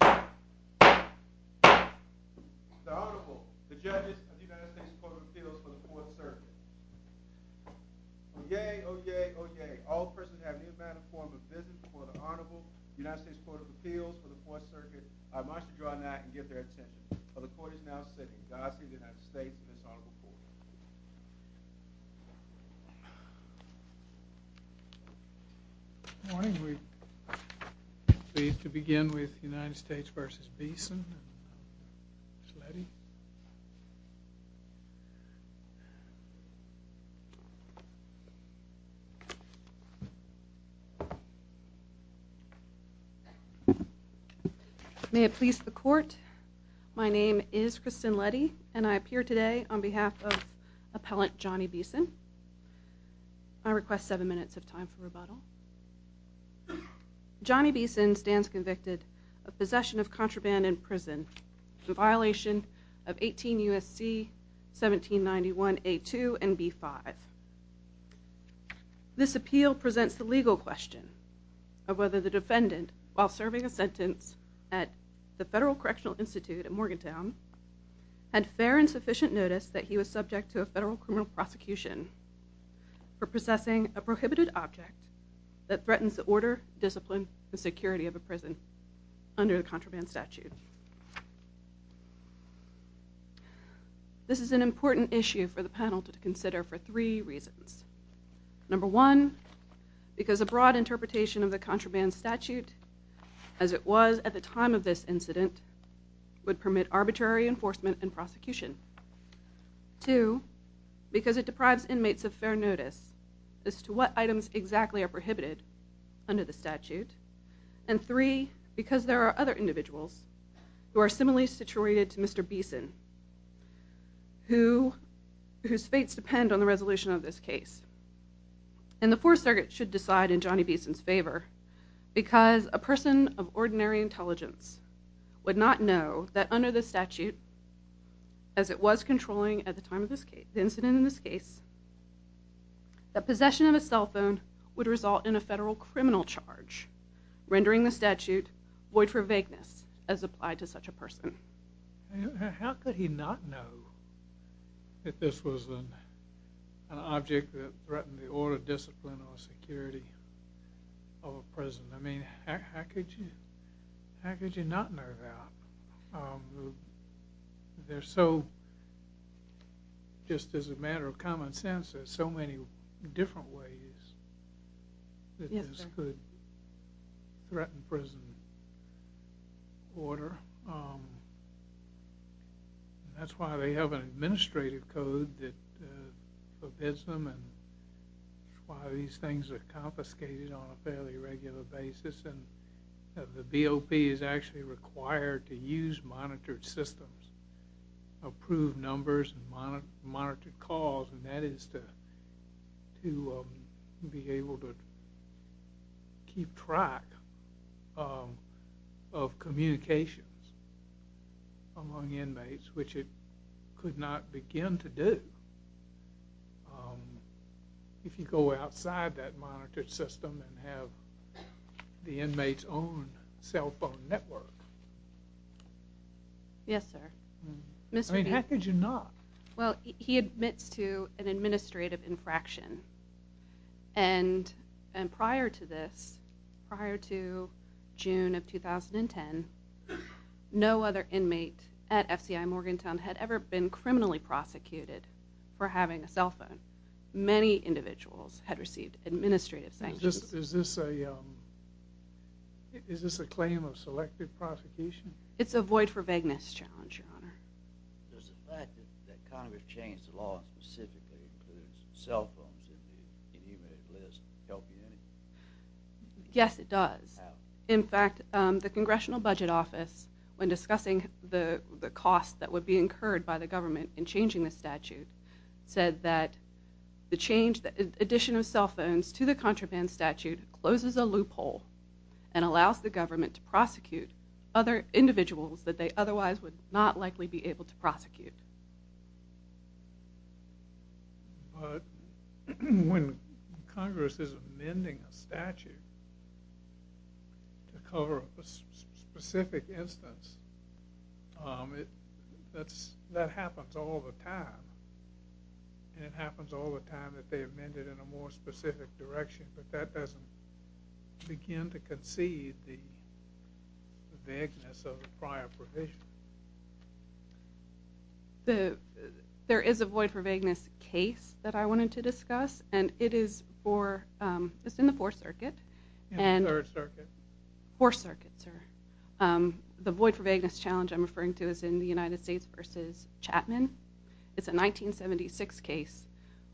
The Honorable, the Judges of the United States Court of Appeals for the Fourth Circuit. Oyez, oyez, oyez. All persons who have any amount of form of business before the Honorable United States Court of Appeals for the Fourth Circuit are admonished to draw a knight and give their attention. For the court is now sitting, the Aussie and the United States in this honorable court. Good morning. We are pleased to begin with United States v. Beeson. May it please the court, my name is Kristen Leddy and I appear today on behalf of Appellant Johnny Beeson. I request seven minutes of time for rebuttal. Johnny Beeson stands convicted of possession of contraband in prison in violation of 18 U.S.C. 1791 A2 and B5. This appeal presents the legal question of whether the defendant, while serving a sentence at the Federal Correctional Institute at Morgantown, had fair and sufficient notice that he was subject to a federal criminal prosecution for possessing a prohibited object that threatens the order, discipline, and security of a prison under the contraband statute. This is an important issue for the panel to consider for three reasons. Number one, because a broad interpretation of the contraband statute, as it was at the time of this incident, would permit arbitrary enforcement and prosecution. Two, because it deprives inmates of fair notice as to what items exactly are prohibited under the statute. And three, because there are other individuals who are similarly situated to Mr. Beeson, whose fates depend on the resolution of this case. And the Fourth Circuit should decide in Johnny Beeson's favor, because a person of ordinary intelligence would not know that under the statute, as it was controlling at the time of the incident in this case, that possession of a cell phone would result in a federal criminal charge, rendering the statute void for vagueness as applied to such a person. How could he not know that this was an object that threatened the order, discipline, or security of a prison? I mean, how could you not know that? Just as a matter of common sense, there are so many different ways that this could threaten prison order. That's why they have an administrative code that forbids them, and why these things are confiscated on a fairly regular basis. The BOP is actually required to use monitored systems, approved numbers, and monitored calls, and that is to be able to keep track of communications among inmates, which it could not begin to do. If you go outside that monitored system and have the inmate's own cell phone network. Yes, sir. I mean, how could you not? Well, he admits to an administrative infraction. And prior to this, prior to June of 2010, no other inmate at FCI Morgantown had ever been criminally prosecuted for having a cell phone. Many individuals had received administrative sanctions. Is this a claim of selective prosecution? It's a void for vagueness challenge, Your Honor. Does the fact that Congress changed the law specifically to include cell phones in the inmate list help you in any way? Yes, it does. How? In fact, the Congressional Budget Office, when discussing the cost that would be incurred by the government in changing the statute, said that the addition of cell phones to the contraband statute closes a loophole and allows the government to prosecute other individuals that they otherwise would not likely be able to prosecute. But when Congress is amending a statute to cover a specific instance, that happens all the time. And it happens all the time that they amend it in a more specific direction. But that doesn't begin to concede the vagueness of the prior provision. There is a void for vagueness case that I wanted to discuss, and it is in the Fourth Circuit. In the Third Circuit? Fourth Circuit, sir. The void for vagueness challenge I'm referring to is in the United States v. Chapman. It's a 1976 case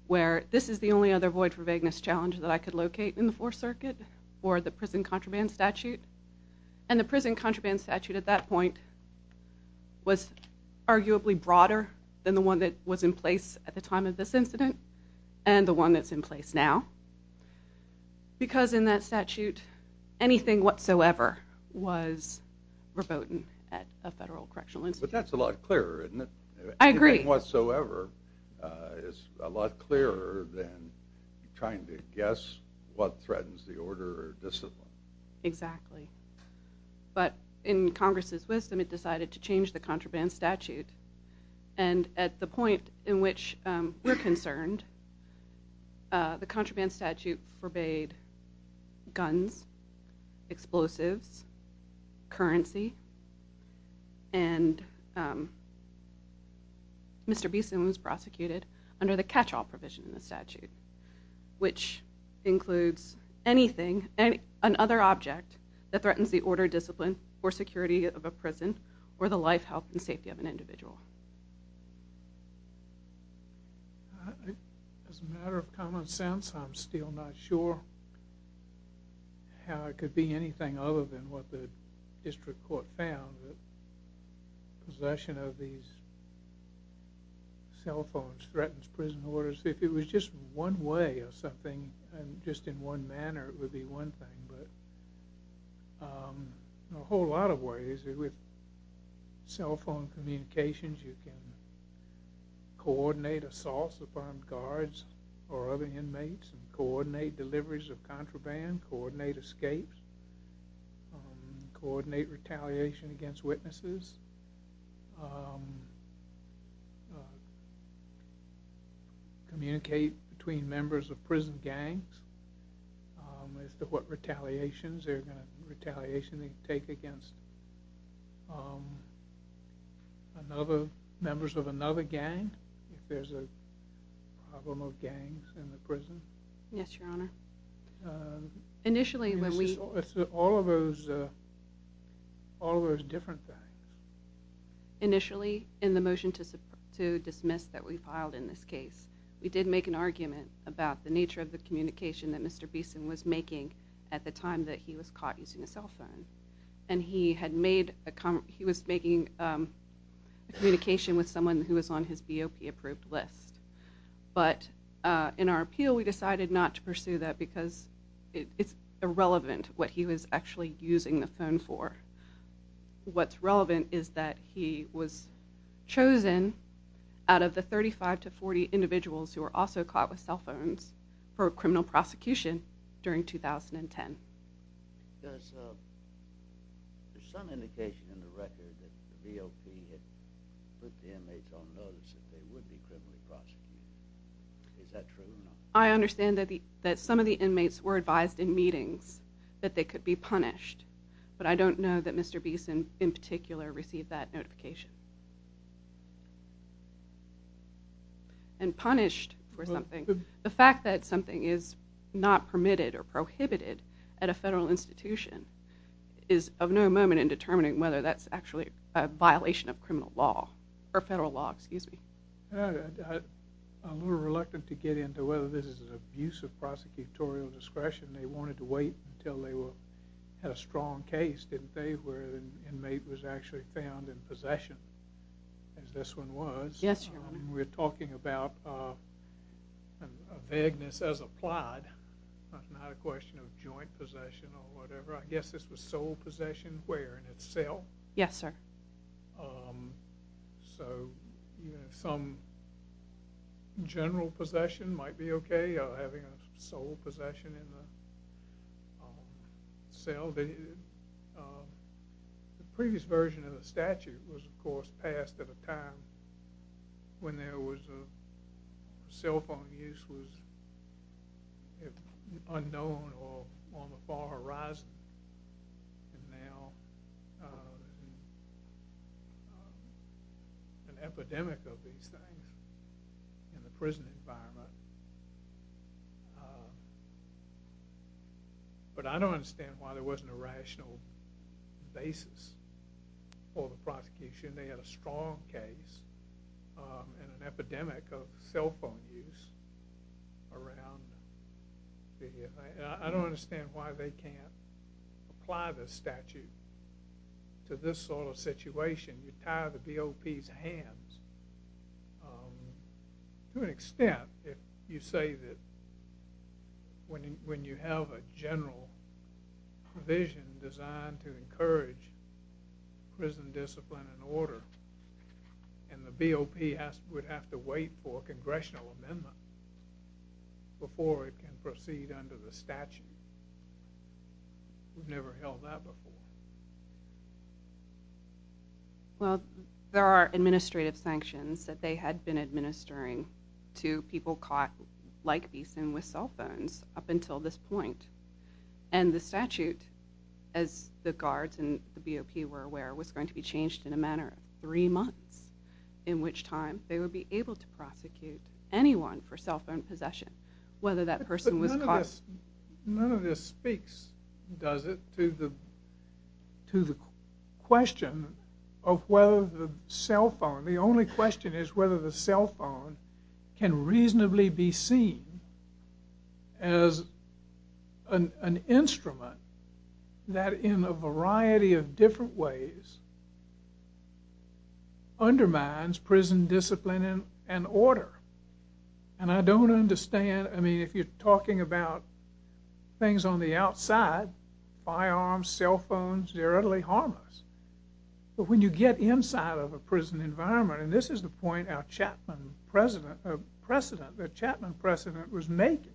where this is the only other void for vagueness challenge that I could locate in the Fourth Circuit for the prison contraband statute. And the prison contraband statute at that point was arguably broader than the one that was in place at the time of this incident and the one that's in place now. Because in that statute, anything whatsoever was verboten at a federal correctional institution. But that's a lot clearer, isn't it? I agree. Anything whatsoever is a lot clearer than trying to guess what threatens the order or discipline. Exactly. But in Congress's wisdom, it decided to change the contraband statute. And at the point in which we're concerned, the contraband statute forbade guns, explosives, currency, and Mr. Beeson was prosecuted under the catch-all provision in the statute, which includes anything, another object, that threatens the order, discipline, or security of a prison or the life, health, and safety of an individual. As a matter of common sense, I'm still not sure how it could be anything other than what the district court found, that possession of these cell phones threatens prison orders. If it was just one way of something and just in one manner, it would be one thing. But in a whole lot of ways, with cell phone communications, you can coordinate assaults of armed guards or other inmates, coordinate deliveries of contraband, coordinate escapes, coordinate retaliation against witnesses, communicate between members of prison gangs as to what retaliation they're going to take against members of another gang, if there's a problem of gangs in the prison. Yes, Your Honor. All of those different things. Initially, in the motion to dismiss that we filed in this case, we did make an argument about the nature of the communication that Mr. Beeson was making at the time that he was caught using a cell phone. And he was making a communication with someone who was on his BOP-approved list. But in our appeal, we decided not to pursue that because it's irrelevant what he was actually using the phone for. What's relevant is that he was chosen out of the 35 to 40 individuals who were also caught with cell phones for criminal prosecution during 2010. There's some indication in the record that the BOP had put the inmates on notice that they would be criminally prosecuted. Is that true or not? I understand that some of the inmates were advised in meetings that they could be punished. But I don't know that Mr. Beeson, in particular, received that notification and punished for something. The fact that something is not permitted or prohibited at a federal institution is of no moment in determining whether that's actually a violation of federal law. I'm a little reluctant to get into whether this is an abuse of prosecutorial discretion. They wanted to wait until they had a strong case, didn't they, where an inmate was actually found in possession, as this one was. Yes, Your Honor. We're talking about a vagueness as applied, not a question of joint possession or whatever. I guess this was sole possession. Where? In its cell? Yes, sir. So some general possession might be okay, having a sole possession in the cell. The previous version of the statute was, of course, passed at a time when cell phone use was unknown or on the far horizon. And now an epidemic of these things in the prison environment. But I don't understand why there wasn't a rational basis for the prosecution. They had a strong case and an epidemic of cell phone use around. I don't understand why they can't apply this statute to this sort of situation. You tie the BOP's hands to an extent if you say that when you have a general provision designed to encourage prison discipline and order, and the BOP would have to wait for a congressional amendment We've never held that before. Well, there are administrative sanctions that they had been administering to people caught like Beeson with cell phones up until this point. And the statute, as the guards and the BOP were aware, was going to be changed in a matter of three months, in which time they would be able to prosecute anyone for cell phone possession, whether that person was caught. None of this speaks, does it, to the question of whether the cell phone, the only question is whether the cell phone can reasonably be seen as an instrument that in a variety of different ways undermines prison discipline and order. And I don't understand, I mean, if you're talking about things on the outside, firearms, cell phones, they're utterly harmless. But when you get inside of a prison environment, and this is the point our Chapman precedent was making,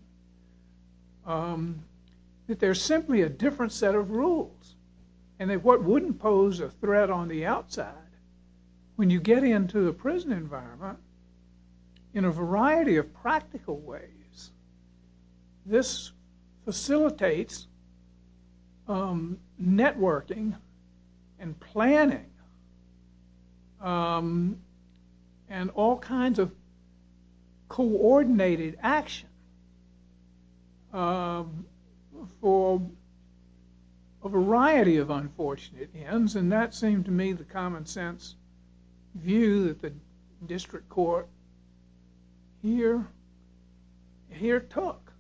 that there's simply a different set of rules. When you get into the prison environment, in a variety of practical ways, this facilitates networking and planning and all kinds of coordinated action for a variety of unfortunate ends. And that seemed to me the common sense view that the district court here took.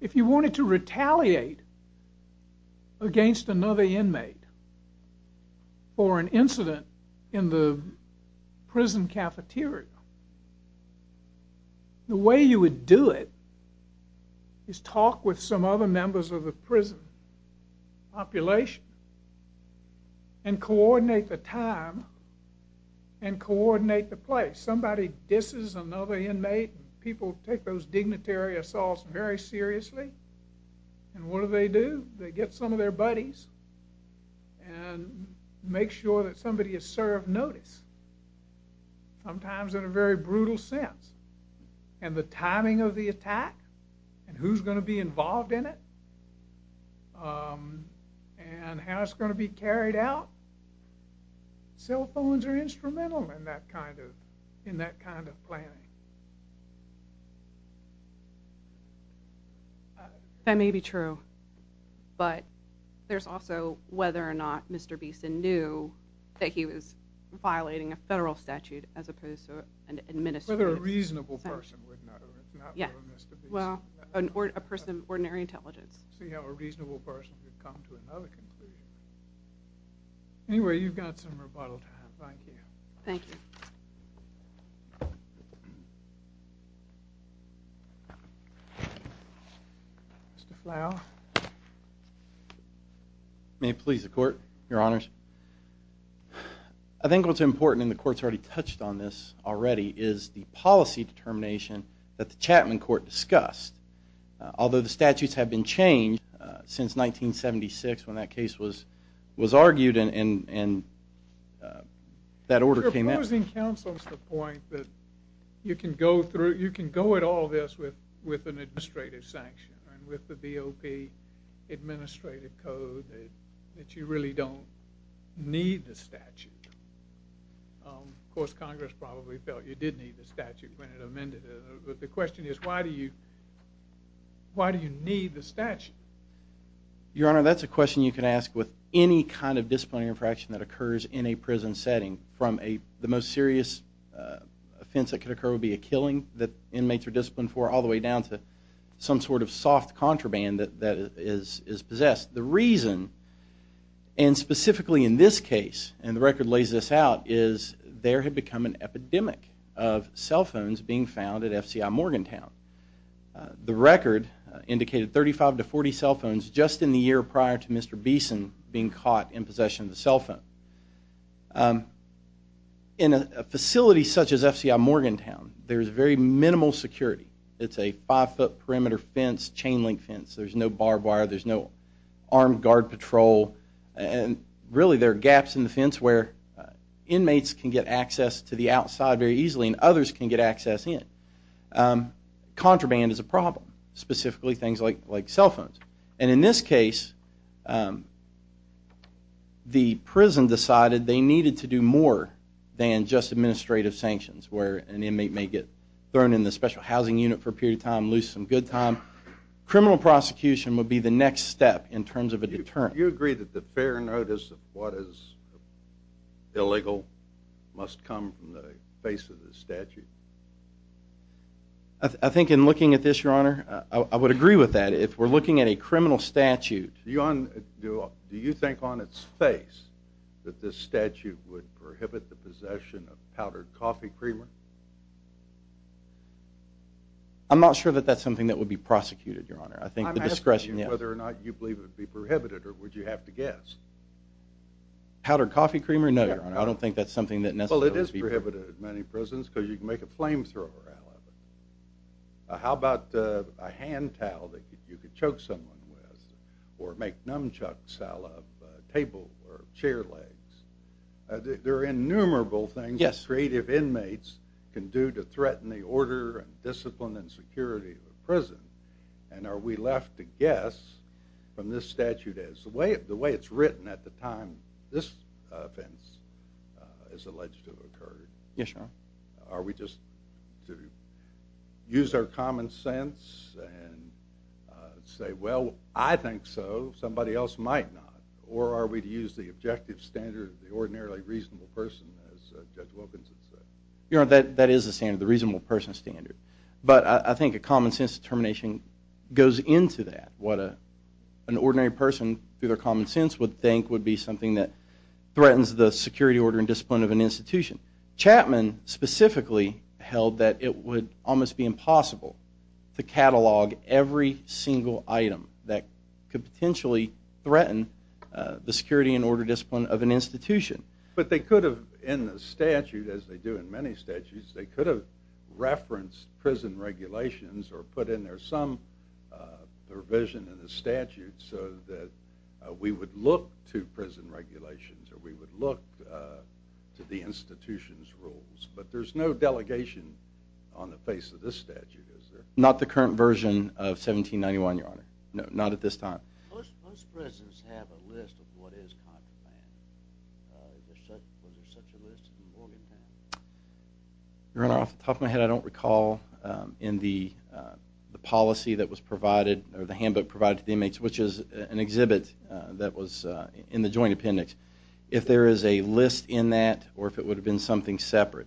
If you wanted to retaliate against another inmate for an incident in the prison cafeteria, the way you would do it is talk with some other members of the prison population and coordinate the time and coordinate the place. Somebody disses another inmate, people take those dignitary assaults very seriously, and what do they do? They get some of their buddies and make sure that somebody is served notice. Sometimes in a very brutal sense. And the timing of the attack and who's going to be involved in it and how it's going to be carried out, cell phones are instrumental in that kind of planning. That may be true, but there's also whether or not Mr. Beeson knew that he was violating a federal statute as opposed to an administrative statute. Whether a reasonable person would know, not Mr. Beeson. Well, a person of ordinary intelligence. See how a reasonable person would come to another conclusion. Anyway, you've got some rebuttal time. Thank you. Thank you. Mr. Flau. May it please the Court, Your Honors. I think what's important, and the Court's already touched on this already, is the policy determination that the Chapman Court discussed. Although the statutes have been changed since 1976 when that case was argued and that order came out. I'm proposing counsels the point that you can go through, you can go at all this with an administrative sanction and with the BOP administrative code that you really don't need the statute. Of course, Congress probably felt you did need the statute when it amended it. But the question is, why do you need the statute? Your Honor, that's a question you can ask with any kind of disciplinary infraction that occurs in a prison setting from the most serious offense that could occur would be a killing that inmates are disciplined for, all the way down to some sort of soft contraband that is possessed. The reason, and specifically in this case, and the record lays this out, is there had become an epidemic of cell phones being found at FCI Morgantown. The record indicated 35 to 40 cell phones just in the year prior to Mr. Beeson being caught in possession of the cell phone. In a facility such as FCI Morgantown, there is very minimal security. It's a five-foot perimeter fence, chain-link fence. There's no barbed wire. There's no armed guard patrol. And really, there are gaps in the fence where inmates can get access to the outside very easily and others can get access in. Contraband is a problem, specifically things like cell phones. And in this case, the prison decided they needed to do more than just administrative sanctions where an inmate may get thrown in the special housing unit for a period of time, lose some good time. Criminal prosecution would be the next step in terms of a deterrent. Do you agree that the fair notice of what is illegal must come from the face of the statute? I think in looking at this, Your Honor, I would agree with that. If we're looking at a criminal statute... Do you think on its face that this statute would prohibit the possession of powdered coffee creamer? I'm not sure that that's something that would be prosecuted, Your Honor. I'm asking you whether or not you believe it would be prohibited, or would you have to guess? Powdered coffee creamer? No, Your Honor. I don't think that's something that necessarily would be prohibited. Well, it is prohibited in many prisons because you can make a flamethrower out of it. How about a hand towel that you could choke someone with or make nunchucks out of a table or chair legs? There are innumerable things that creative inmates can do to threaten the order and discipline and security of a prison, and are we left to guess from this statute as to the way it's written at the time this offense is alleged to have occurred? Yes, Your Honor. Are we just to use our common sense and say, well, I think so, somebody else might not? Or are we to use the objective standard of the ordinarily reasonable person, as Judge Wilkinson said? Your Honor, that is the standard, the reasonable person standard. But I think a common sense determination goes into that. What an ordinary person, through their common sense, would think would be something that threatens the security order and discipline of an institution. Chapman specifically held that it would almost be impossible to catalog every single item that could potentially threaten the security and order discipline of an institution. But they could have, in the statute, as they do in many statutes, they could have referenced prison regulations or put in there some provision in the statute so that we would look to prison regulations or we would look to the institution's rules. But there's no delegation on the face of this statute, is there? Not the current version of 1791, Your Honor. No, not at this time. Most prisons have a list of what is contemplated. Was there such a list in Morgantown? Your Honor, off the top of my head, I don't recall in the policy that was provided or the handbook provided to the inmates, which is an exhibit that was in the Joint Appendix, if there is a list in that or if it would have been something separate.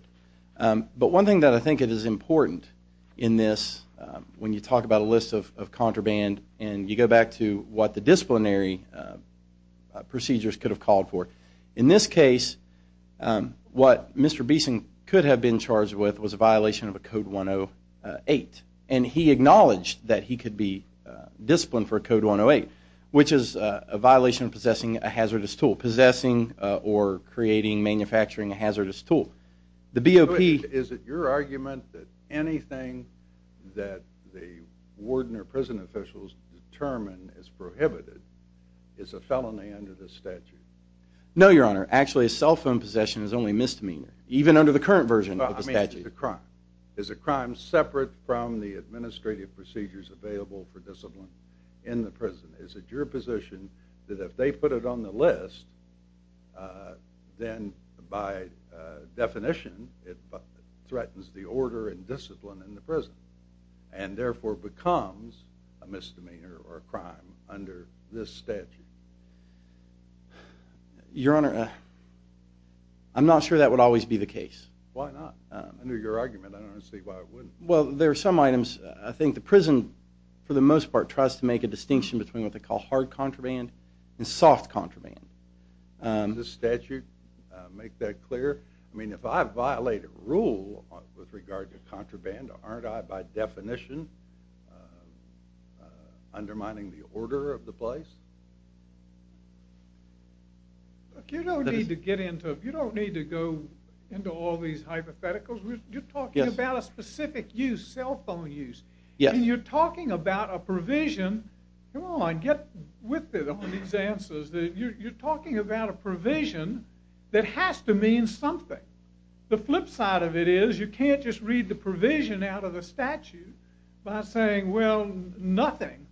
But one thing that I think is important in this, when you talk about a list of contraband and you go back to what the disciplinary procedures could have called for, in this case, what Mr. Beeson could have been charged with was a violation of a Code 108. And he acknowledged that he could be disciplined for a Code 108, which is a violation of possessing a hazardous tool, possessing or creating, manufacturing a hazardous tool. Is it your argument that anything that the warden or prison officials determine is prohibited is a felony under this statute? No, Your Honor. Actually, a cell phone possession is only a misdemeanor, even under the current version of the statute. Is it a crime? Is it a crime separate from the administrative procedures available for discipline in the prison? Is it your position that if they put it on the list, then by definition it threatens the order and discipline in the prison and therefore becomes a misdemeanor or a crime under this statute? Why not? Under your argument, I don't see why it wouldn't. Well, there are some items. I think the prison, for the most part, tries to make a distinction between what they call hard contraband and soft contraband. Does this statute make that clear? I mean, if I violate a rule with regard to contraband, aren't I by definition undermining the order of the place? Look, you don't need to go into all these hypotheticals. You're talking about a specific use, cell phone use. And you're talking about a provision. Come on, get with it on these answers. You're talking about a provision that has to mean something. The flip side of it is you can't just read the provision out of the statute by saying, well, nothing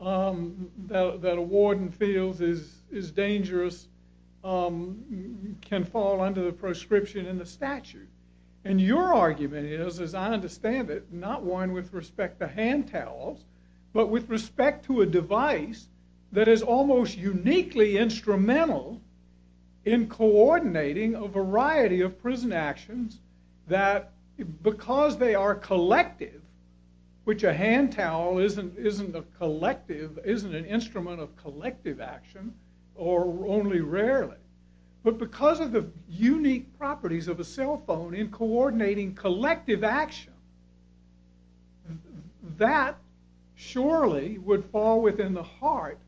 that a warden feels is dangerous can fall under the prescription in the statute. And your argument is, as I understand it, not one with respect to hand towels, but with respect to a device that is almost uniquely instrumental in coordinating a variety of prison actions that because they are collective, which a hand towel isn't an instrument of collective action, or only rarely, but because of the unique properties of a cell phone in coordinating collective action, that surely would fall within the heart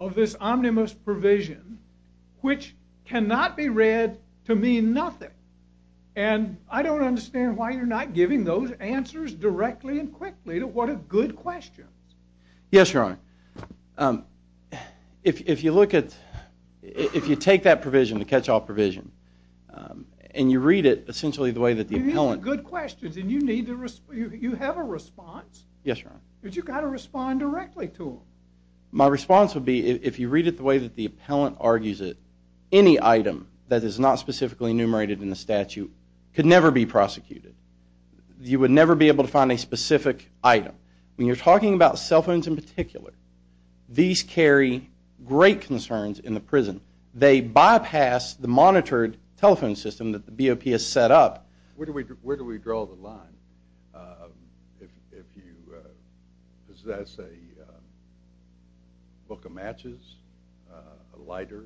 of this omnibus provision, which cannot be read to mean nothing. And I don't understand why you're not giving those answers directly and quickly to what are good questions. Yes, Your Honor. If you look at, if you take that provision, the catch-all provision, and you read it essentially the way that the appellant... These are good questions, and you have a response. Yes, Your Honor. But you've got to respond directly to them. My response would be, if you read it the way that the appellant argues it, any item that is not specifically enumerated in the statute could never be prosecuted. You would never be able to find a specific item. When you're talking about cell phones in particular, these carry great concerns in the prison. They bypass the monitored telephone system that the BOP has set up. Where do we draw the line? If you possess a book of matches, a lighter,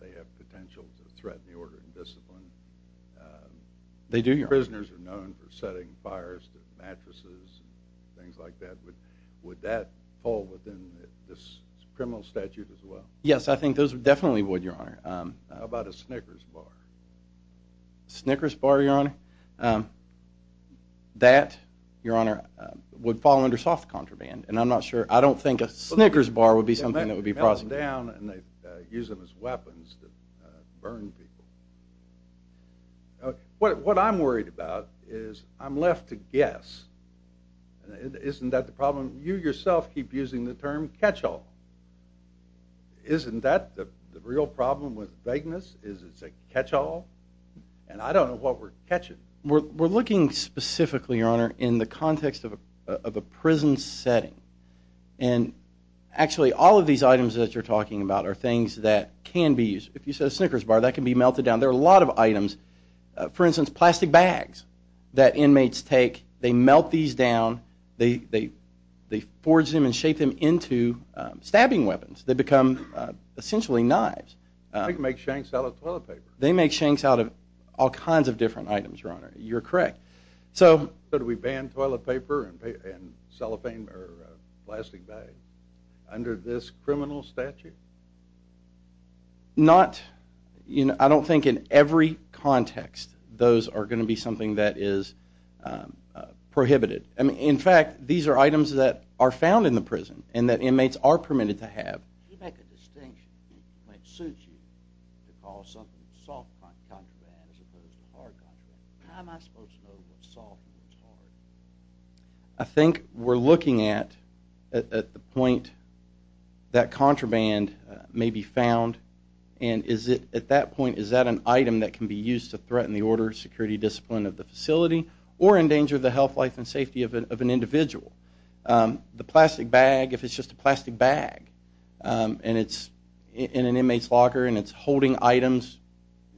they have potential to threaten the order and discipline. They do, Your Honor. Prisoners are known for setting fires to mattresses and things like that. Would that fall within this criminal statute as well? Yes, I think those definitely would, Your Honor. How about a Snickers bar? A Snickers bar, Your Honor? That, Your Honor, would fall under soft contraband. And I'm not sure. I don't think a Snickers bar would be something that would be prosecuted. They melt them down and they use them as weapons to burn people. What I'm worried about is I'm left to guess. Isn't that the problem? You yourself keep using the term catch-all. Isn't that the real problem with vagueness? Is it a catch-all? And I don't know what we're catching. We're looking specifically, Your Honor, in the context of a prison setting. And actually all of these items that you're talking about are things that can be used. If you said a Snickers bar, that can be melted down. There are a lot of items, for instance, plastic bags that inmates take. They melt these down. They forge them and shape them into stabbing weapons. They become essentially knives. They can make shanks out of toilet paper. They make shanks out of all kinds of different items, Your Honor. You're correct. So do we ban toilet paper and cellophane or plastic bags under this criminal statute? Not. I don't think in every context those are going to be something that is prohibited. In fact, these are items that are found in the prison and that inmates are permitted to have. Can you make a distinction that might suit you to call something a soft contraband as opposed to a hard contraband? How am I supposed to know what's soft and what's hard? I think we're looking at the point that contraband may be found. And at that point, is that an item that can be used to threaten the order, security, discipline of the facility or endanger the health, life, and safety of an individual? The plastic bag, if it's just a plastic bag and it's in an inmate's locker and it's holding items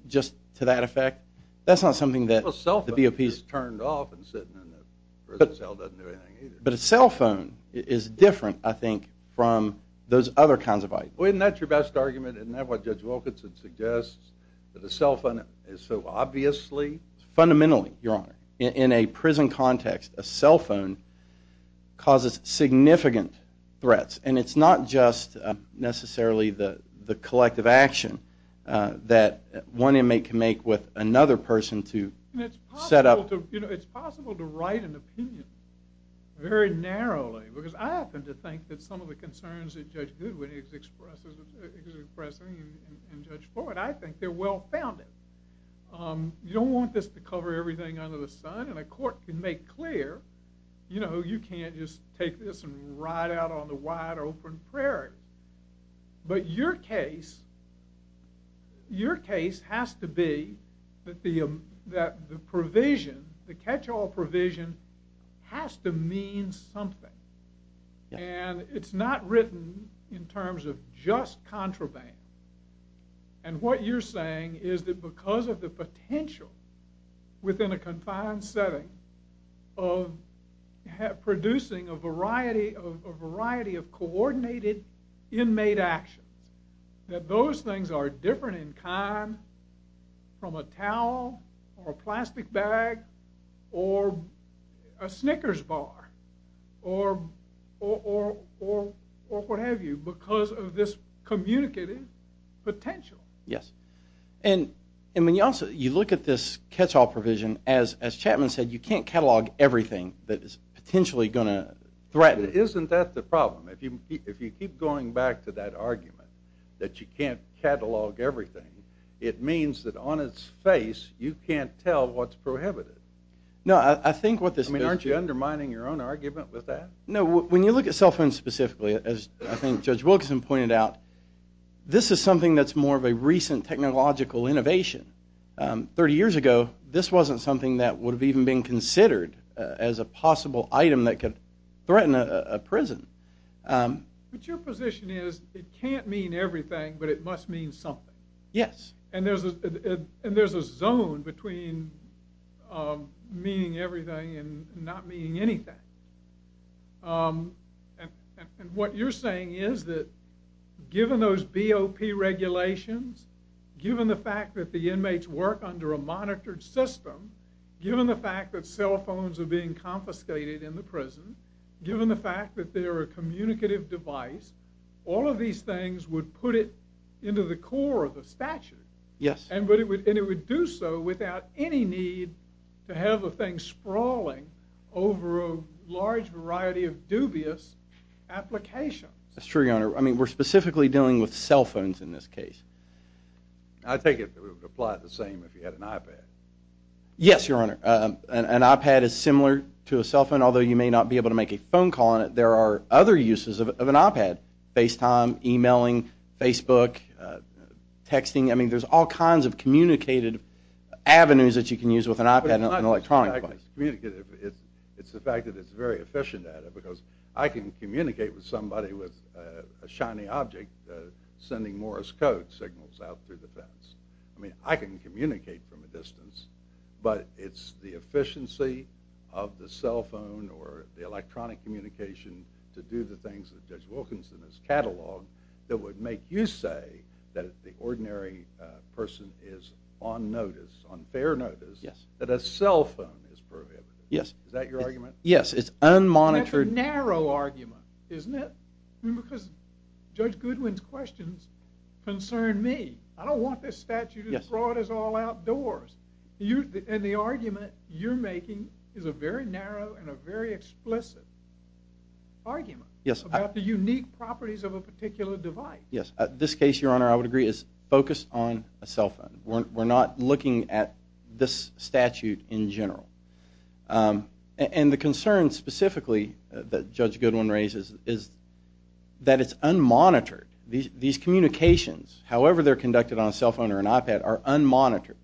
just to that effect, that's not something that the BOPs... A cell phone is turned off and sitting in the prison cell doesn't do anything either. But a cell phone is different, I think, from those other kinds of items. Well, isn't that your best argument? Isn't that what Judge Wilkinson suggests, that a cell phone is so obviously... Fundamentally, Your Honor. In a prison context, a cell phone causes significant threats. And it's not just necessarily the collective action that one inmate can make with another person to set up... It's possible to write an opinion very narrowly because I happen to think that some of the concerns that Judge Goodwin is expressing and Judge Ford, I think they're well-founded. You don't want this to cover everything under the sun. And a court can make clear, you know, you can't just take this and ride out on the wide-open prairie. But your case has to be that the provision, the catch-all provision, has to mean something. And it's not written in terms of just contraband. And what you're saying is that because of the potential within a confined setting of producing a variety of coordinated inmate actions, that those things are different in kind from a towel or a plastic bag or a Snickers bar or what have you because of this communicative potential. Yes. And when you look at this catch-all provision, as Chapman said, you can't catalog everything that is potentially going to threaten... Isn't that the problem? If you keep going back to that argument that you can't catalog everything, it means that on its face you can't tell what's prohibited. No, I think what this... I mean, aren't you undermining your own argument with that? No, when you look at cell phones specifically, as I think Judge Wilkinson pointed out, this is something that's more of a recent technological innovation. Thirty years ago, this wasn't something that would have even been considered as a possible item that could threaten a prison. But your position is it can't mean everything, but it must mean something. Yes. And there's a zone between meaning everything and not meaning anything. And what you're saying is that given those BOP regulations, given the fact that the inmates work under a monitored system, given the fact that cell phones are being confiscated in the prison, given the fact that they're a communicative device, all of these things would put it into the core of the statute. Yes. And it would do so without any need to have a thing sprawling over a large variety of dubious applications. That's true, Your Honor. I mean, we're specifically dealing with cell phones in this case. I take it that we would apply it the same if you had an iPad. Yes, Your Honor. An iPad is similar to a cell phone, although you may not be able to make a phone call on it. There are other uses of an iPad, FaceTime, e-mailing, Facebook, texting. I mean, there's all kinds of communicated avenues that you can use with an iPad and an electronic device. It's the fact that it's very efficient at it, because I can communicate with somebody with a shiny object sending Morse code signals out through the fence. I mean, I can communicate from a distance, but it's the efficiency of the cell phone or the electronic communication to do the things that Judge Wilkinson has cataloged that would make you say that if the ordinary person is on notice, on fair notice, that a cell phone is prohibited. Yes. Yes, it's unmonitored. That's a narrow argument, isn't it? Because Judge Goodwin's questions concern me. I don't want this statute as broad as all outdoors. And the argument you're making is a very narrow and a very explicit argument about the unique properties of a particular device. This case, Your Honor, I would agree, is focused on a cell phone. We're not looking at this statute in general. And the concern specifically that Judge Goodwin raises is that it's unmonitored. These communications, however they're conducted on a cell phone or an iPad, are unmonitored.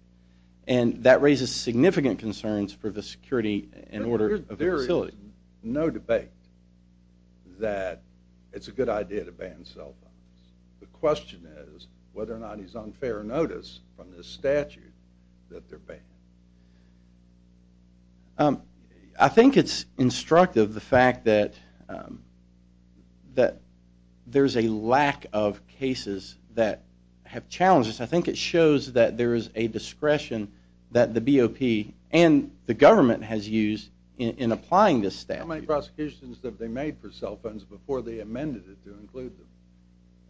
And that raises significant concerns for the security and order of the facility. There is no debate that it's a good idea to ban cell phones. The question is whether or not it's on fair notice from this statute that they're banned. I think it's instructive, the fact that there's a lack of cases that have challenges. I think it shows that there is a discretion that the BOP and the government has used in applying this statute. How many prosecutions have they made for cell phones before they amended it to include them?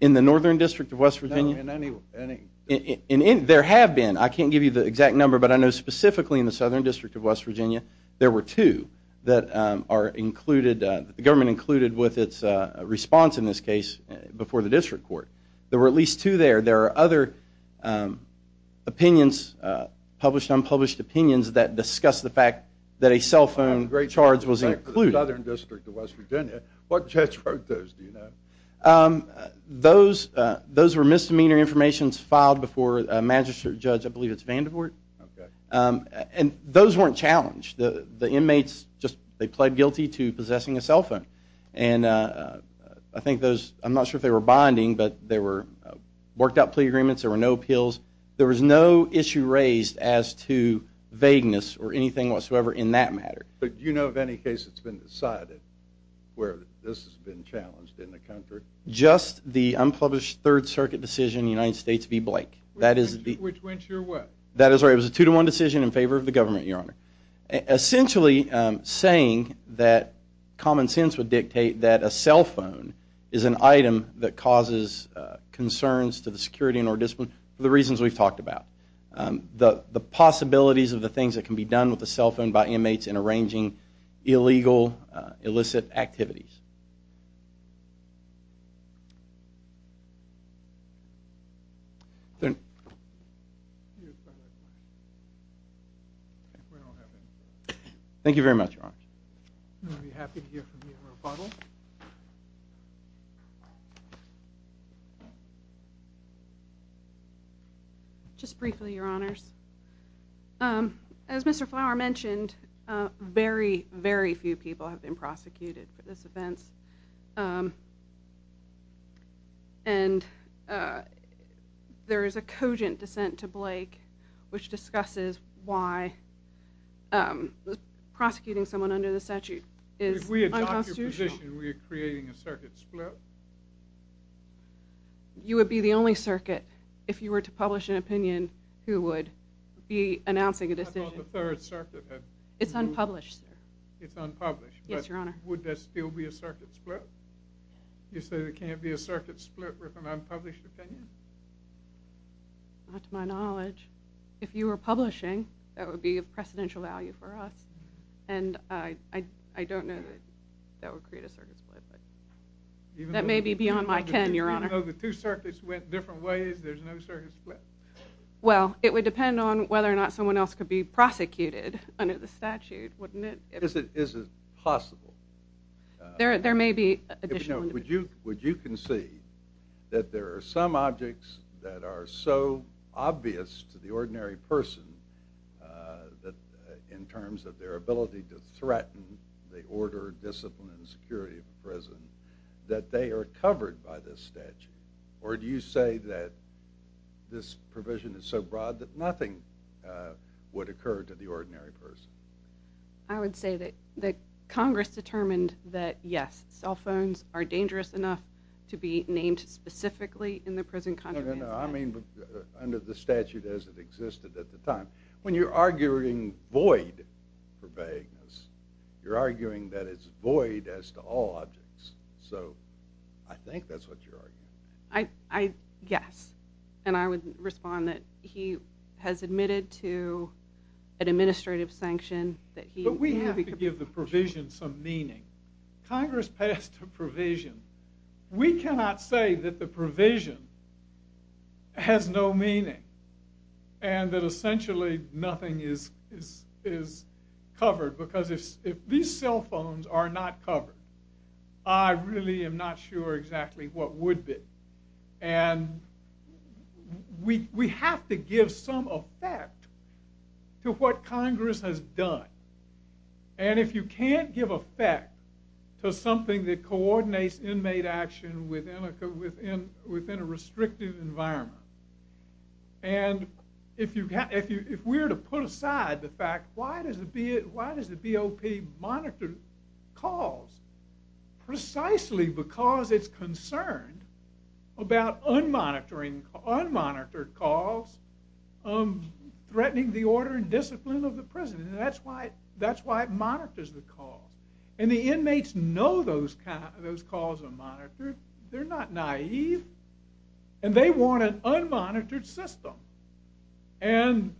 In the Northern District of West Virginia? No, in any. There have been. I can't give you the exact number, but I know specifically in the Southern District of West Virginia there were two that the government included with its response in this case before the district court. There were at least two there. There are other opinions, published, unpublished opinions, that discuss the fact that a cell phone charge was included. The Southern District of West Virginia. What judge wrote those, do you know? Those were misdemeanor information filed before a magistrate judge, I believe it's Vandervoort. And those weren't challenged. The inmates just pled guilty to possessing a cell phone. And I think those, I'm not sure if they were binding, but they were worked out plea agreements, there were no appeals, there was no issue raised as to vagueness or anything whatsoever in that matter. But do you know of any case that's been decided where this has been challenged in the country? Just the unpublished Third Circuit decision in the United States v. Blake. Which went your way? That is right, it was a two-to-one decision in favor of the government, Your Honor. Essentially saying that common sense would dictate that a cell phone is an item that causes concerns to the security in our district for the reasons we've talked about. The possibilities of the things that can be done with a cell phone by inmates in arranging illegal, illicit activities. Thank you very much, Your Honor. I'd be happy to hear from you in rebuttal. Thank you. Just briefly, Your Honors. As Mr. Flower mentioned, very, very few people have been prosecuted for this offense. And there is a cogent dissent to Blake which discusses why prosecuting someone under the statute is unconstitutional. In your position, were you creating a circuit split? You would be the only circuit, if you were to publish an opinion, who would be announcing a decision. How about the Third Circuit? It's unpublished, sir. It's unpublished. Yes, Your Honor. Would there still be a circuit split? You say there can't be a circuit split with an unpublished opinion? Not to my knowledge. If you were publishing, that would be of precedential value for us. And I don't know that that would create a circuit split. That may be beyond my ken, Your Honor. Even though the two circuits went different ways, there's no circuit split? Well, it would depend on whether or not someone else could be prosecuted under the statute, wouldn't it? Is it possible? There may be additional... Would you concede that there are some objects that are so obvious to the ordinary person, in terms of their ability to threaten the order, discipline, and security of a prison, that they are covered by this statute? Or do you say that this provision is so broad that nothing would occur to the ordinary person? I would say that Congress determined that, yes, cell phones are dangerous enough to be named specifically in the prison contract. No, no, no. I mean under the statute as it existed at the time. When you're arguing void for vagueness, you're arguing that it's void as to all objects. So I think that's what you're arguing. Yes, and I would respond that he has admitted to an administrative sanction that he... But we have to give the provision some meaning. Congress passed a provision. We cannot say that the provision has no meaning, and that essentially nothing is covered, because if these cell phones are not covered, I really am not sure exactly what would be. And we have to give some effect to what Congress has done. And if you can't give effect to something that coordinates inmate action within a restrictive environment, and if we were to put aside the fact, why does the BOP monitor calls? Precisely because it's concerned about unmonitored calls threatening the order and discipline of the prison, and that's why it monitors the calls. And the inmates know those calls are monitored. They're not naive. And they want an unmonitored system. And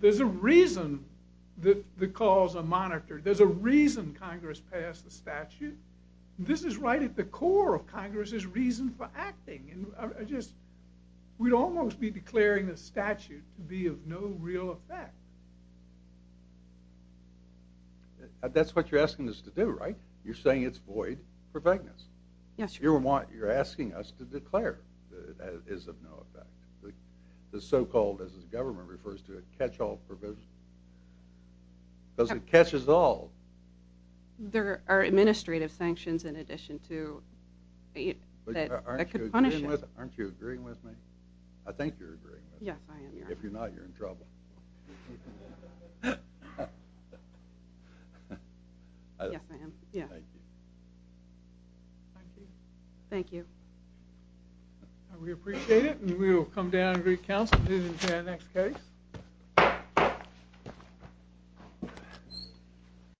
there's a reason that the calls are monitored. There's a reason Congress passed the statute. This is right at the core of Congress's reason for acting. We'd almost be declaring the statute to be of no real effect. That's what you're asking us to do, right? You're saying it's void for vagueness. You're asking us to declare that it is of no effect. The so-called, as the government refers to it, catch-all provision. Because it catches all. There are administrative sanctions in addition to that could punish it. Aren't you agreeing with me? I think you're agreeing with me. Yes, I am. If you're not, you're in trouble. Yes, I am. Thank you. Thank you. We appreciate it, and we will come down and greet counsel to the next case.